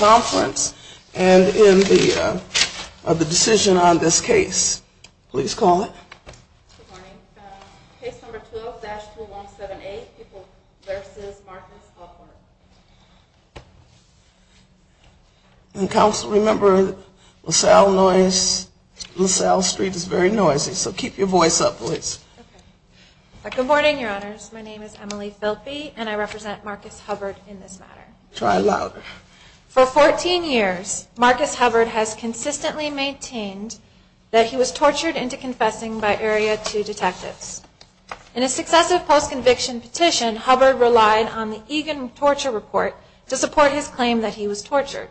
and in the decision on this case. Please call it. Good morning. Case number 12-2178 versus Marcus Hubbard. Counsel, remember LaSalle Street is very noisy, so keep your voice up, please. Good morning, Your Honors. My name is Emily Filpe, and I represent Marcus Hubbard in this matter. For 14 years, Marcus Hubbard has consistently maintained that he was tortured into confessing by Area 2 detectives. In a successive post-conviction petition, Hubbard relied on the Egan Torture Report to support his claim that he was tortured.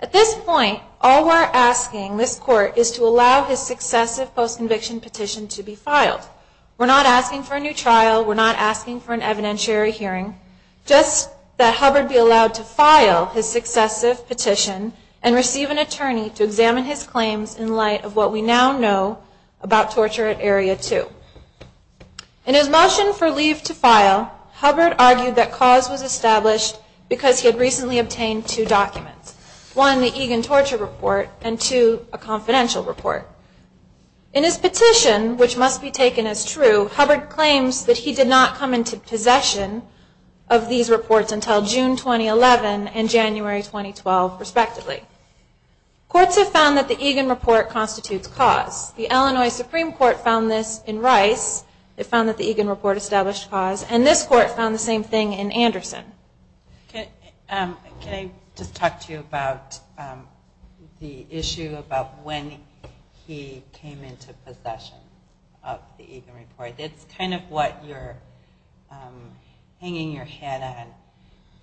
At this point, all we're asking this Court is to allow his successive post-conviction petition to be filed. We're not asking for a new trial. We're not asking for an evidentiary hearing. Just that Hubbard be allowed to file his successive petition and receive an attorney to examine his claims in light of what we now know about torture at Area 2. In his motion for leave to file, Hubbard argued that cause was established because he had recently obtained two documents. One, the Egan Torture Report, and two, a confidential report. In his petition, which must be taken as true, Hubbard claims that he did not come into possession of these reports until June 2011 and January 2012, respectively. Courts have found that the Egan Report constitutes cause. The Illinois Supreme Court found this in Rice. They found that the Egan Report established cause. And this Court found the same thing in Anderson. They found that he came into possession of the Egan Report. It's kind of what you're hanging your head on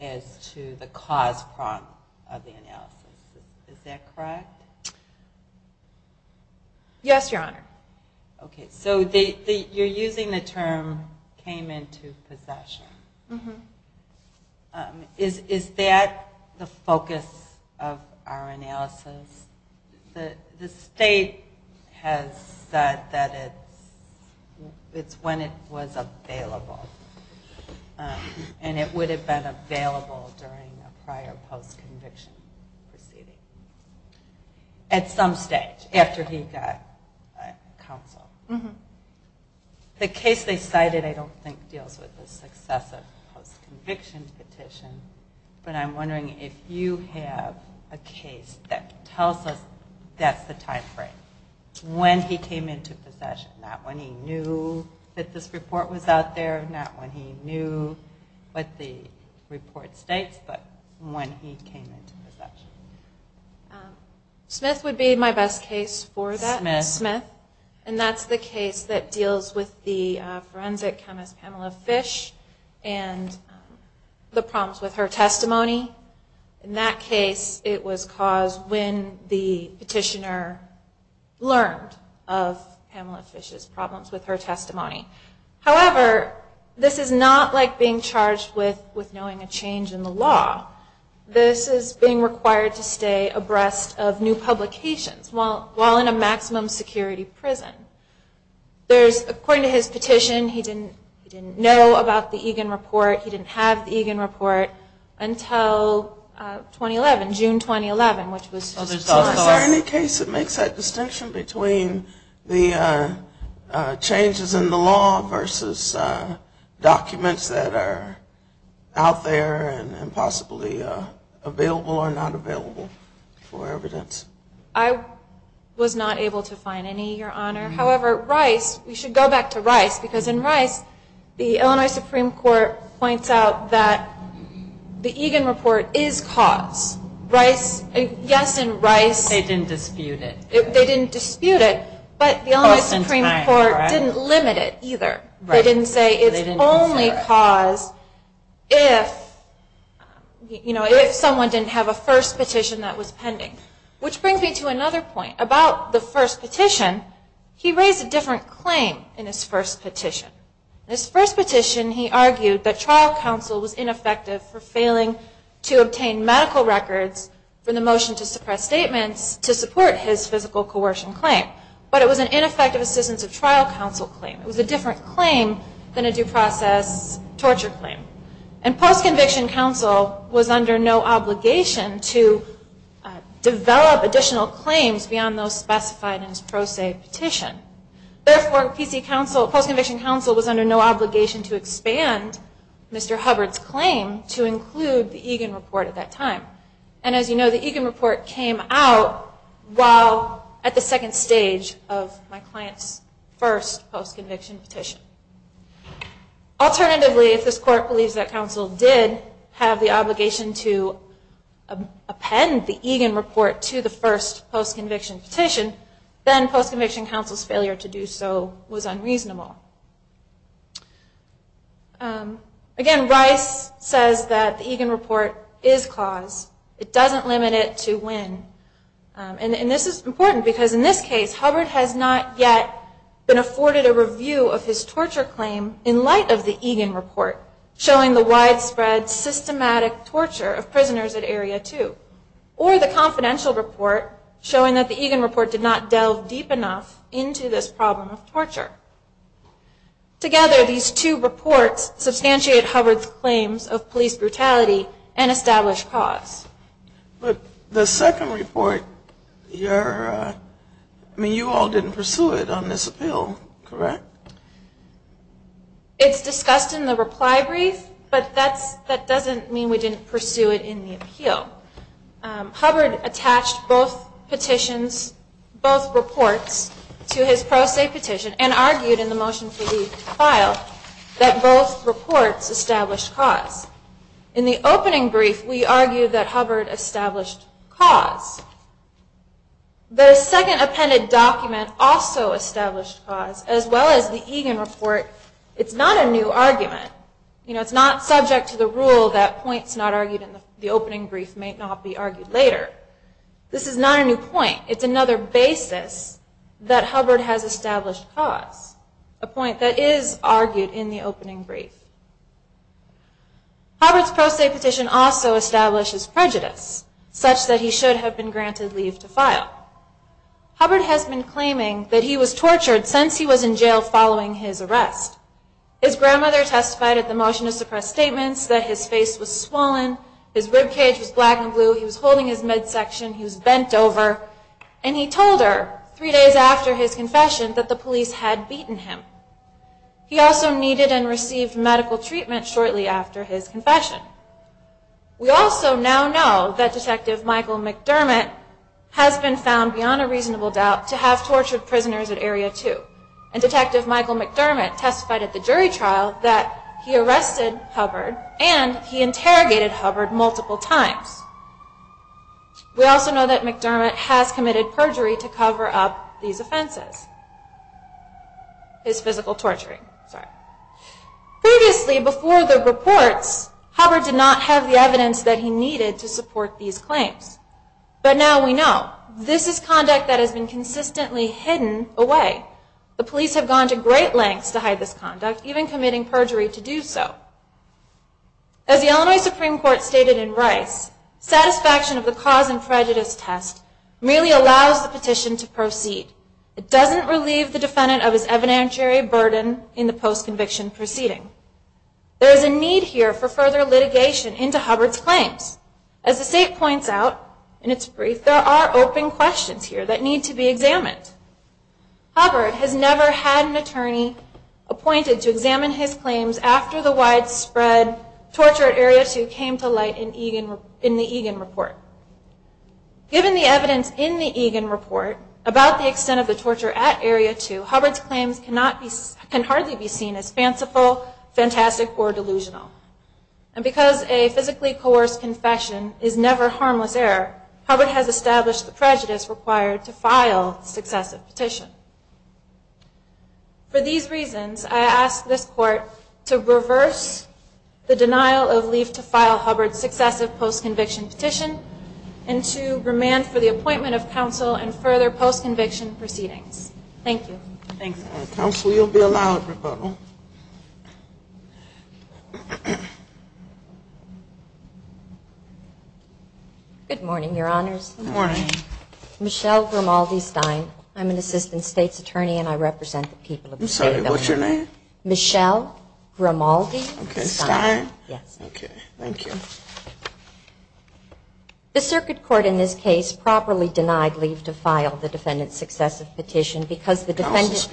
as to the cause prompt of the analysis. Is that correct? Yes, Your Honor. Okay, so you're using the term came into possession. Is that the focus of our analysis? The state has said that it's when it was available. And it would have been available during a prior post-conviction proceeding. At some stage, after he got counsel. The case they cited I don't think deals with the success of a post-conviction petition. But I'm wondering if you have a case that tells us that's the time frame, when he came into possession. Not when he knew that this report was out there, not when he knew what the report states, but when he came into possession. Smith would be my best case for that. And that's the case that deals with the forensic chemist Pamela Fish and the problems with her testimony. In that case, it was caused when the petitioner learned of Pamela Fish's problems with her testimony. However, this is not like being charged with knowing a change in the law. This is being required to stay abreast of new publications while in a maximum security prison. According to his petition, he didn't know about the Egan report. He didn't have the Egan report until 2011, June 2011. Is there any case that makes that distinction between the changes in the law versus documents that are out there and possibly not? I was not able to find any, Your Honor. However, Rice, we should go back to Rice, because in Rice, the Illinois Supreme Court points out that the Egan report is caused. Yes, in Rice, they didn't dispute it, but the Illinois Supreme Court didn't limit it either. They didn't say it's only caused if someone didn't have a first petition that was pending. Which brings me to another point. About the first petition, he raised a different claim in his first petition. In his first petition, he argued that trial counsel was ineffective for failing to obtain medical records for the motion to suppress statements to support his physical coercion claim. But it was an ineffective assistance of trial counsel claim. It was a different claim than a due process torture claim. And post-conviction counsel was under no obligation to develop additional claims beyond those specified in his pro se petition. Therefore, post-conviction counsel was under no obligation to expand Mr. Hubbard's claim to include the Egan report at that time. And as you know, the Egan report came out at the second stage of my client's first post-conviction petition. Alternatively, if this court believes that counsel did have the obligation to append the Egan report to the first post-conviction petition, then post-conviction counsel's failure to do so was unreasonable. Again, Rice says that the Egan report is clause. It doesn't limit it to when. And this is important because in this case, Hubbard has not yet been afforded a review of his torture claim in light of the Egan report, showing the widespread, systematic torture of prisoners at Area 2. Or the confidential report, showing that the Egan report did not delve deep enough into this problem of torture. Together, these two reports substantiate Hubbard's claims of police brutality and establish clause. But the second report, I mean, you all didn't pursue it on this appeal, correct? It's discussed in the reply brief, but that doesn't mean we didn't pursue it in the appeal. Hubbard attached both petitions, both reports, to his pro se petition and argued in the motion that the Egan report should not be used as a reason for the file, that both reports established clause. In the opening brief, we argued that Hubbard established clause. The second appended document also established clause, as well as the Egan report. It's not a new argument. It's not subject to the rule that points not argued in the opening brief may not be argued later. This is not a new point. It's another basis that Hubbard has established clause. A point that is argued in the opening brief. Hubbard's pro se petition also establishes prejudice, such that he should have been granted leave to file. Hubbard has been claiming that he was tortured since he was in jail following his arrest. His grandmother testified at the motion to suppress statements that his face was swollen, his ribcage was black and blue, he was holding his midsection, he was bent over, and he told her three days after his confession that the police had beaten him. He also needed and received medical treatment shortly after his confession. We also now know that Detective Michael McDermott has been found, beyond a reasonable doubt, to have tortured prisoners at Area 2. And Detective Michael McDermott testified at the jury trial that he arrested Hubbard and he interrogated Hubbard multiple times. We also know that McDermott has committed perjury to cover up these offenses. His physical torturing. Previously, before the reports, Hubbard did not have the evidence that he needed to support these claims. But now we know. This is conduct that has been consistently hidden away. The police have gone to great lengths to hide this conduct, even committing perjury to do so. As the Illinois Supreme Court stated in Rice, satisfaction of the cause and prejudice test merely allows the petition to proceed. It doesn't relieve the defendant of his evidentiary burden in the post-conviction proceeding. There is a need here for further litigation into Hubbard's claims. As the state points out in its brief, there are open questions here that need to be examined. Hubbard has never had an attorney appointed to examine his claims after the widespread torture at Area 2 came to light in the Egan report. Given the evidence in the Egan report about the extent of the torture at Area 2, Hubbard's claims can hardly be seen as fanciful, fantastic, or delusional. And because a physically coerced confession is never harmless error, Hubbard has established the prejudice required to file successive petitions. For these reasons, I ask this Court to reverse the denial of leave to file Hubbard's successive post-conviction petition and to remand for the appointment of counsel in further post-conviction proceedings. Thank you. Good morning, Your Honors. Good morning. Michelle Grimaldi Stein. I'm an assistant state's attorney and I represent the people of the state of Illinois. I'm sorry, what's your name? Michelle Grimaldi Stein. Okay, thank you. The circuit court in this case properly denied leave to file the defendant's successive petition because the defendant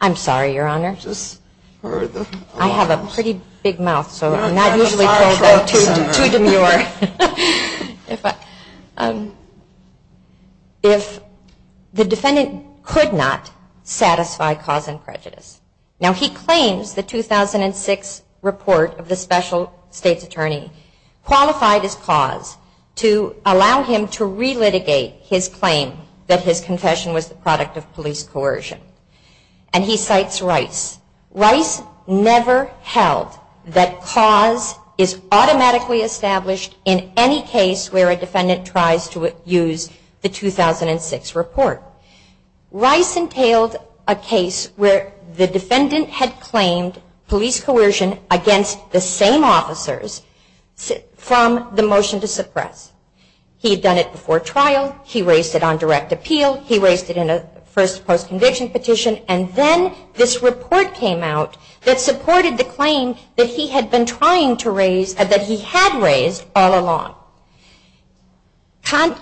I'm sorry, Your Honor. I have a pretty big mouth, so I'm not usually told that to demur. If the defendant could not satisfy cause and prejudice. Now he claims the 2006 report of the special state's attorney qualified his cause to allow him to relitigate his claim that his confession was the product of police coercion. And he cites Rice. Rice never held that cause is automatically established in any case where a defendant tries to use the 2006 report. Rice entailed a case where the defendant had claimed police coercion against the same officers from the motion to suppress. He had done it before trial, he raised it on direct appeal, he raised it in a first post-conviction petition, and then this report came out that supported the claim that he had been trying to raise, that he had raised all along.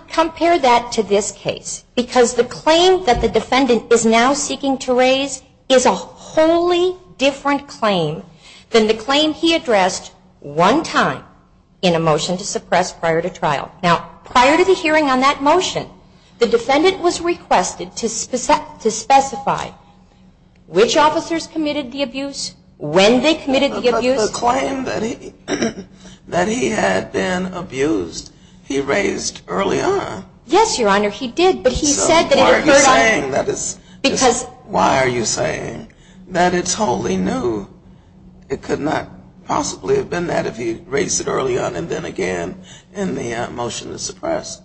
Compare that to this case, because the claim that the defendant is now seeking to raise is a wholly different claim than the claim he addressed one time in a motion to suppress prior to trial. Now prior to the hearing on that motion, the defendant was requested to specify which officers committed the abuse, when they committed the abuse. Now this claim that he had been abused, he raised early on. Yes, Your Honor, he did. So why are you saying that it's wholly new? It could not possibly have been that if he raised it early on and then again in the motion to suppress.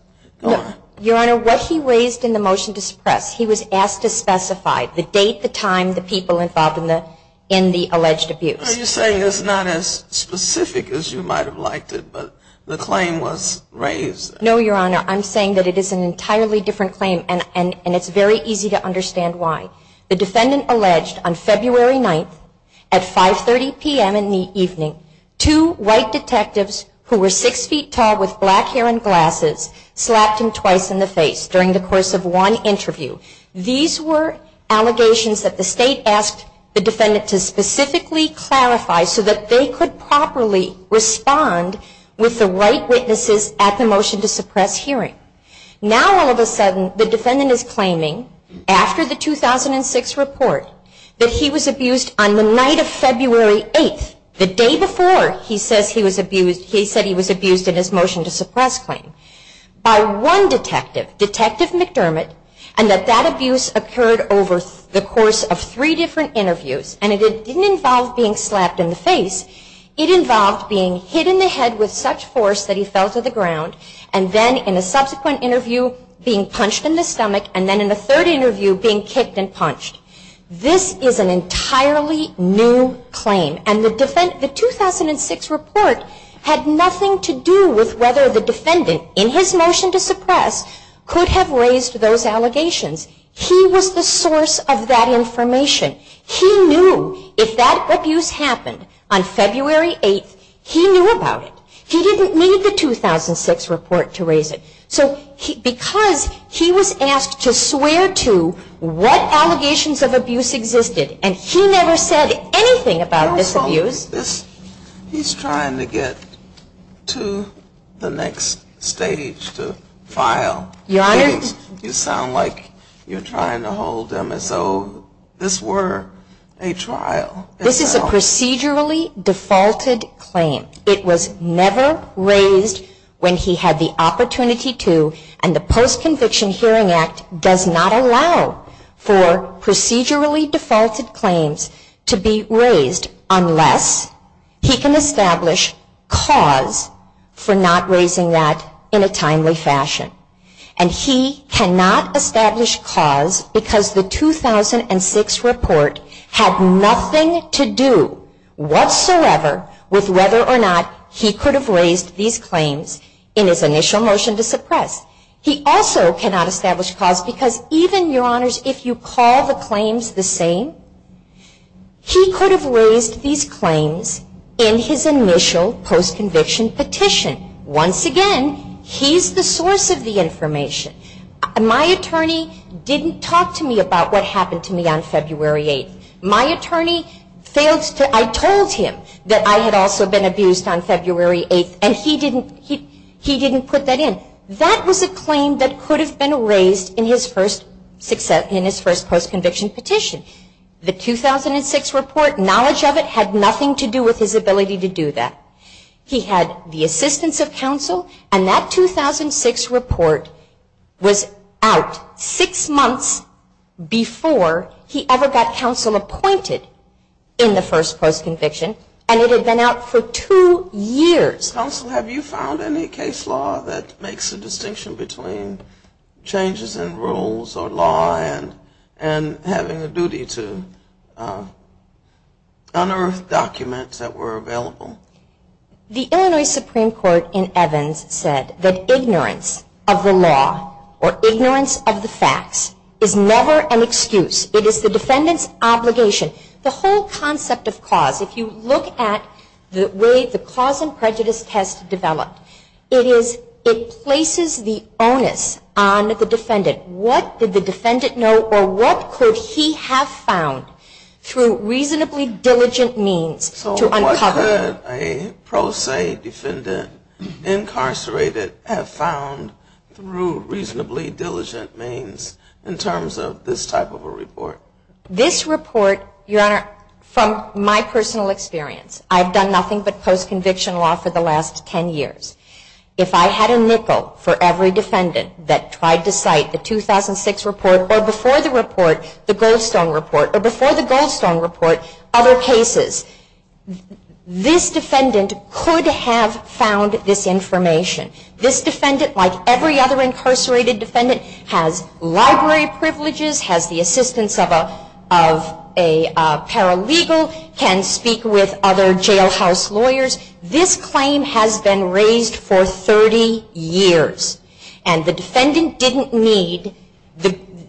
Your Honor, what he raised in the motion to suppress, he was asked to specify the date, the time, the people involved in the alleged abuse. Are you saying it's not as specific as you might have liked it, but the claim was raised? No, Your Honor, I'm saying that it is an entirely different claim, and it's very easy to understand why. The defendant alleged on February 9th at 5.30 p.m. in the evening, two white detectives who were six feet tall with black hair and glasses slapped him twice in the face during the course of one interview. These were allegations that the State asked the defendant to specifically clarify so that they could properly respond with the right witnesses at the motion to suppress hearing. Now all of a sudden, the defendant is claiming, after the 2006 report, that he was abused on the night of February 8th, the day before he said he was abused in his motion to suppress claim, by one detective, Detective McDermott, and that that was not the case. That that abuse occurred over the course of three different interviews, and it didn't involve being slapped in the face. It involved being hit in the head with such force that he fell to the ground, and then in a subsequent interview, being punched in the stomach, and then in a third interview, being kicked and punched. This is an entirely new claim, and the 2006 report had nothing to do with whether the defendant, in his motion to suppress, could have raised those allegations. He was the source of that information. He knew if that abuse happened on February 8th, he knew about it. He didn't need the 2006 report to raise it. So because he was asked to swear to what allegations of abuse existed, and he never said anything about this abuse. He's trying to get to the next stage, to file things. You sound like you're trying to hold him. So this were a trial. This is a procedurally defaulted claim. It was never raised when he had the opportunity to, and the Post-Conviction Hearing Act does not allow for procedurally defaulted claims to be raised unless he can establish cause for not raising that in a timely fashion. And he cannot establish cause because the 2006 report had nothing to do whatsoever with whether or not he could have raised these claims in his initial motion to suppress. He also cannot establish cause because even, Your Honors, if you call the claims the same, he could have raised these claims in his initial post-conviction petition. Once again, he's the source of the information. My attorney didn't talk to me about what happened to me on February 8th. My attorney failed to, I told him that I had also been abused on February 8th, and he didn't put that in. That was a claim that could have been raised in his first post-conviction petition. The 2006 report, knowledge of it, had nothing to do with his ability to do that. He had the assistance of counsel, and that 2006 report was out six months before he ever got counsel appointed in the first post-conviction, and it had been out for two years. Counsel, have you found any case law that makes a distinction between changes in rules or law and having a duty to unearth documents that were available? The Illinois Supreme Court in Evans said that ignorance of the law or ignorance of the facts is never an excuse. It is the defendant's obligation. The whole concept of cause, if you look at the way the cause and prejudice test developed, it places the onus on the defendant. What did the defendant know or what could he have found through reasonably diligent means to uncover? This report, your Honor, from my personal experience, I've done nothing but post-conviction law for the last 10 years. If I had a nickel for every defendant that tried to cite the 2006 report or before the report, the Goldstone report, or before the Goldstone report, other cases, this defendant could have found this information. This defendant, like every other incarcerated defendant, has library privileges, has the assistance of a paralegal, can speak with other jailhouse lawyers. This claim has been raised for 30 years, and the defendant didn't need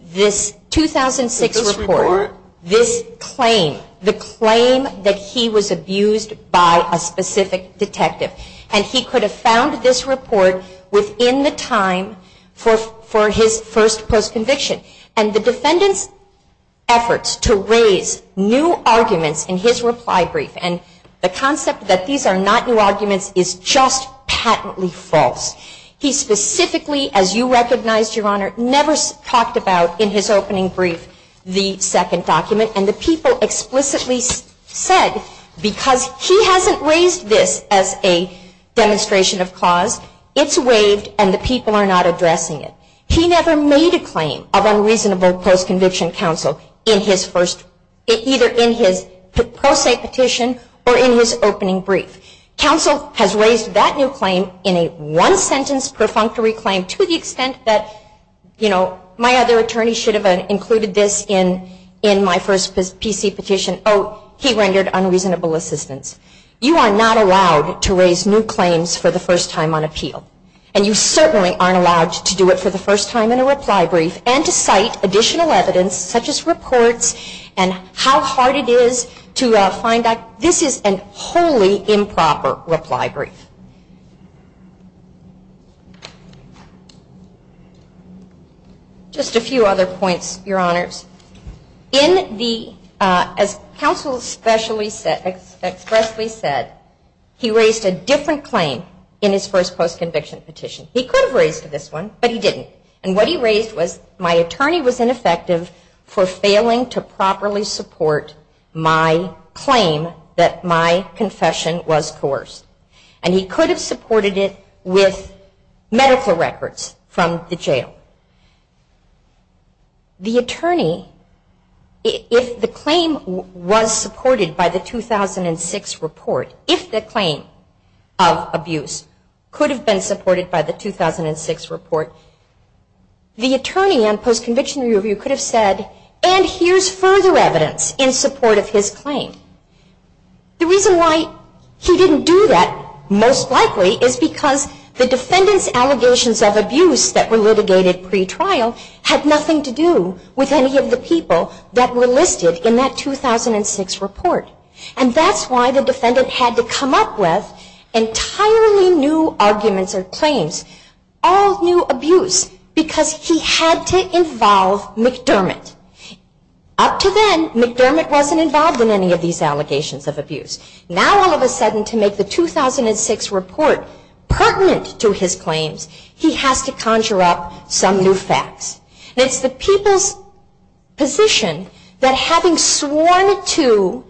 this 2006 report, this claim, the claim that he was abused by a specific detective. And he could have found this report within the time for his first post-conviction. And the defendant's efforts to raise new arguments in his reply brief, and the concept that these are not new arguments, is just patently false. He specifically, as you recognized, your Honor, never talked about in his opening statement, brief, the second document. And the people explicitly said, because he hasn't raised this as a demonstration of cause, it's waived and the people are not addressing it. He never made a claim of unreasonable post-conviction counsel in his first, either in his pro se petition or in his opening brief. Counsel has raised that new claim in a one-sentence perfunctory claim to the extent that, you know, my other attorney should have included this in my first PC petition. Oh, he rendered unreasonable assistance. You are not allowed to raise new claims for the first time on appeal. And you certainly aren't allowed to do it for the first time in a reply brief, and to cite additional evidence, such as reports, and how hard it is to find out. This is a wholly improper reply brief. Just a few other points, your Honors. As counsel expressly said, he raised a different claim in his first post-conviction petition. He could have raised this one, but he didn't. And what he raised was, my attorney was ineffective for failing to properly support my claim that my attorney was not responsible for the abuse. He could have supported it with medical records from the jail. The attorney, if the claim was supported by the 2006 report, if the claim of abuse could have been supported by the 2006 report, the attorney on post-conviction review could have said, and here's further evidence in support of his claim. The reason why he didn't do that, most likely, is because he defendants' allegations of abuse that were litigated pre-trial had nothing to do with any of the people that were listed in that 2006 report. And that's why the defendant had to come up with entirely new arguments or claims, all new abuse, because he had to involve McDermott. Up to then, McDermott wasn't involved in any of these allegations of abuse. Now, all of a sudden, to make the 2006 report pertinent to his claims, he has to conjure up some new facts. And it's the people's position that having sworn to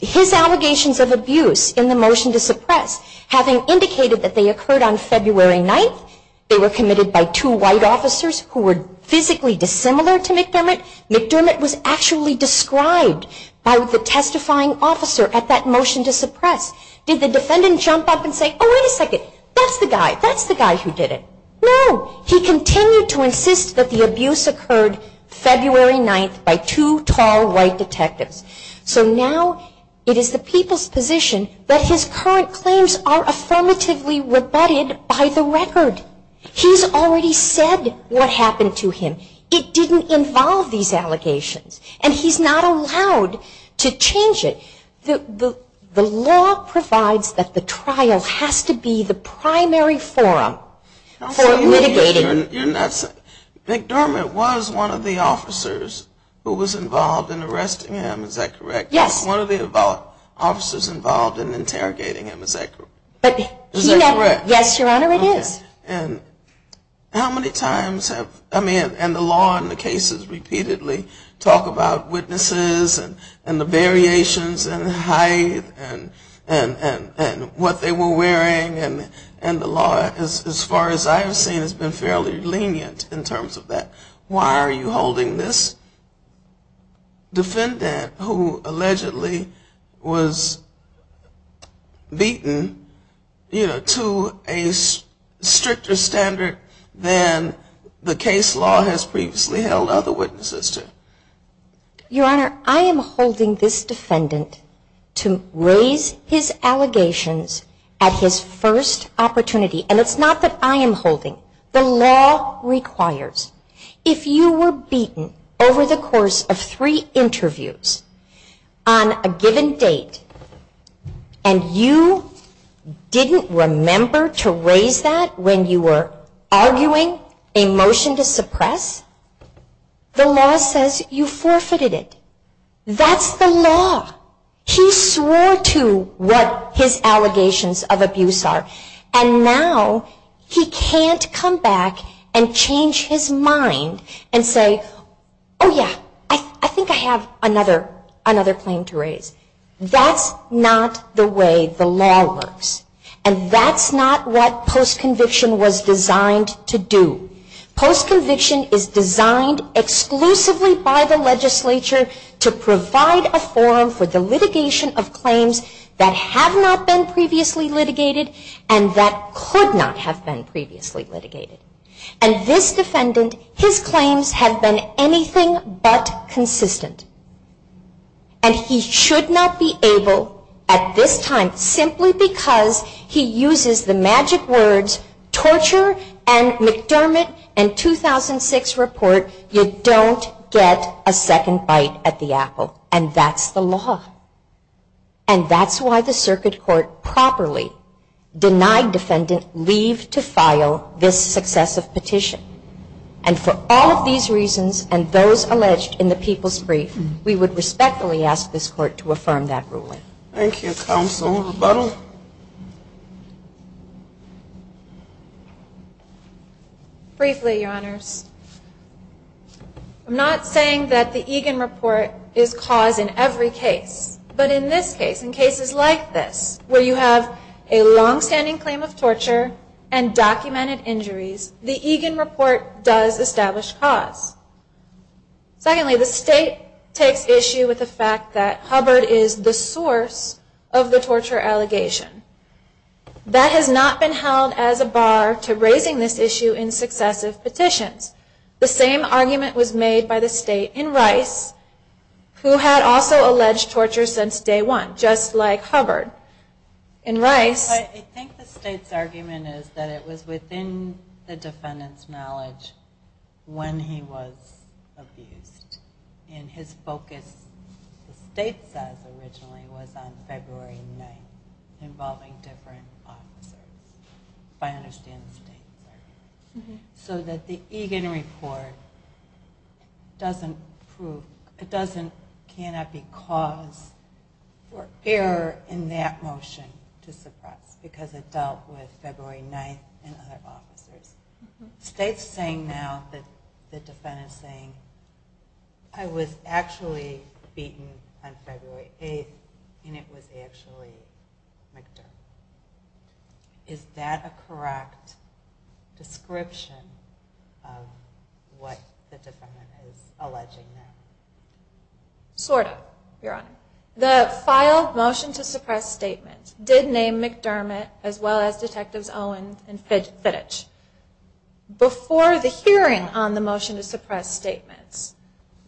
his allegations of abuse in the motion to suppress, having indicated that they occurred on February 9th, they were committed by two white officers who were physically dissimilar to McDermott, McDermott was actually described by the testifying officer at that time as a white man. He didn't jump up and say, oh, wait a second, that's the guy, that's the guy who did it. No, he continued to insist that the abuse occurred February 9th by two tall white detectives. So now it is the people's position that his current claims are affirmatively rebutted by the record. He's already said what happened to him. It didn't involve these allegations. And he's not allowed to say, oh, wait a second, the trial has to be the primary forum for litigating. You're not saying, McDermott was one of the officers who was involved in arresting him, is that correct? Yes. One of the officers involved in interrogating him, is that correct? Is that correct? Yes, Your Honor, it is. And how many times have, I mean, and the law and the cases repeatedly talk about witnesses and the variations in height and weight, and how many times has McDermott been arrested, and what they were wearing, and the law, as far as I've seen, has been fairly lenient in terms of that. Why are you holding this defendant who allegedly was beaten, you know, to a stricter standard than the case law has previously held other witnesses to? Your Honor, I am holding this defendant to raise his allegations at his first opportunity. And it's not that I am holding. The law requires, if you were beaten over the course of three interviews on a given date, and you didn't remember to raise that when you were arguing a motion to suppress, the law says you forfeited it. That's the law. He swore to what his allegations of abuse are. And now he can't come back and change his mind and say, oh, yeah, I think I have another claim to raise. That's not the way the law works. And that's not what post-conviction was designed to do. Post-conviction is designed exclusively by the legislature to provide a forum for the litigation of claims that have not been previously litigated and that could not have been previously litigated. And this defendant, his claims have been anything but consistent. And he should not be able, at this time, simply because he's not a lawyer, because he uses the magic words torture and McDermott and 2006 report, you don't get a second bite at the apple. And that's the law. And that's why the circuit court properly denied defendant leave to file this successive petition. And for all of these reasons and those alleged in the People's Brief, we would respectfully ask this Court to affirm that ruling. Briefly, Your Honors, I'm not saying that the Egan report is cause in every case. But in this case, in cases like this, where you have a longstanding claim of torture and documented injuries, the Egan report does establish cause. Secondly, the State takes issue with the defendant's claim of torture. That has not been held as a bar to raising this issue in successive petitions. The same argument was made by the State in Rice, who had also alleged torture since day one, just like Hubbard. In Rice... I think the State's argument is that it was within the defendant's knowledge when he was abused. And his focus, the State says originally, was on February 9th, involving different officers, if I understand this correctly. So that the Egan report cannot be cause or error in that motion to suppress, because it dealt with February 9th and other officers. The State's saying now that the defendant's saying, I was actually beaten on February 8th, and it was actually McDermott. Is that a correct description of what the defendant is alleging now? Sort of, Your Honor. The filed motion to suppress statement did name McDermott, as well as Detectives Owens and Fittich. Before the hearing on the motion to suppress statements,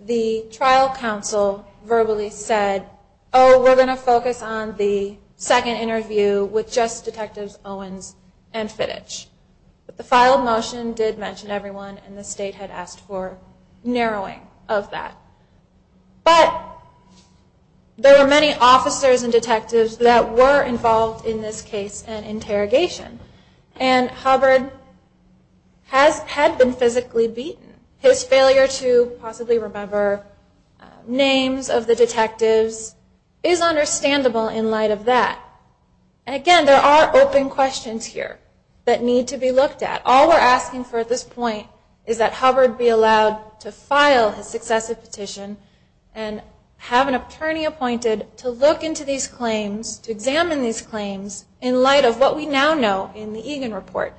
the trial counsel verbally said, oh, we're going to focus on the second interview with just Detectives Owens and Fittich. But the filed motion did mention everyone, and the State had asked for narrowing of that. But, there were many officers and detectives that were involved in this case and interrogation. And Hubbard had been involved in this case. He had been physically beaten. His failure to possibly remember names of the detectives is understandable in light of that. And again, there are open questions here that need to be looked at. All we're asking for at this point is that Hubbard be allowed to file his successive petition and have an attorney appointed to look into these claims, to examine these claims, in light of what we now know in the case.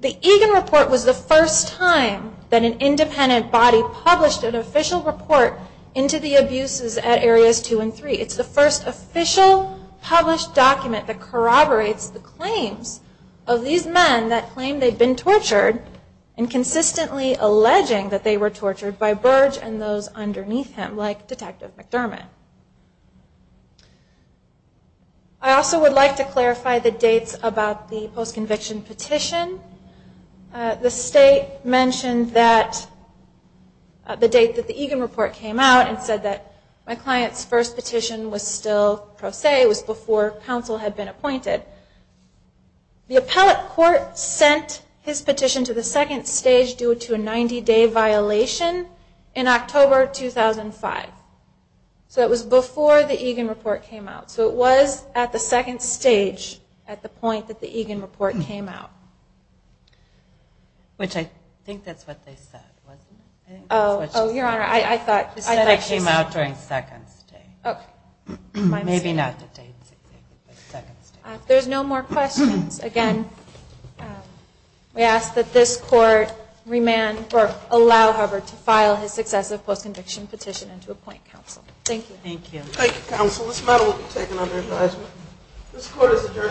The Egan Report was the first time that an independent body published an official report into the abuses at Areas 2 and 3. It's the first official published document that corroborates the claims of these men that claim they've been tortured and consistently alleging that they were tortured by Burge and those underneath him, like Detective McDermott. I also would like to clarify the dates about the post-conviction petition. The State mentioned that the date that the Egan Report came out and said that my client's first petition was still pro se. It was before counsel had been appointed. The appellate court sent his petition to the second stage due to a 90-day violation in October 2005. So, it was before the Egan Report came out. So, it was at the second stage, at the point that the Egan Report came out. Which I think that's what they said, wasn't it? Oh, Your Honor, I thought she said... They said it came out during the second stage. Maybe not the second stage. If there's no more questions, again, we ask that this court allow Hubbard to file his successive post-conviction petition and to appoint counsel. Thank you. Thank you, counsel. This matter will be taken under advisement. This court is adjourned.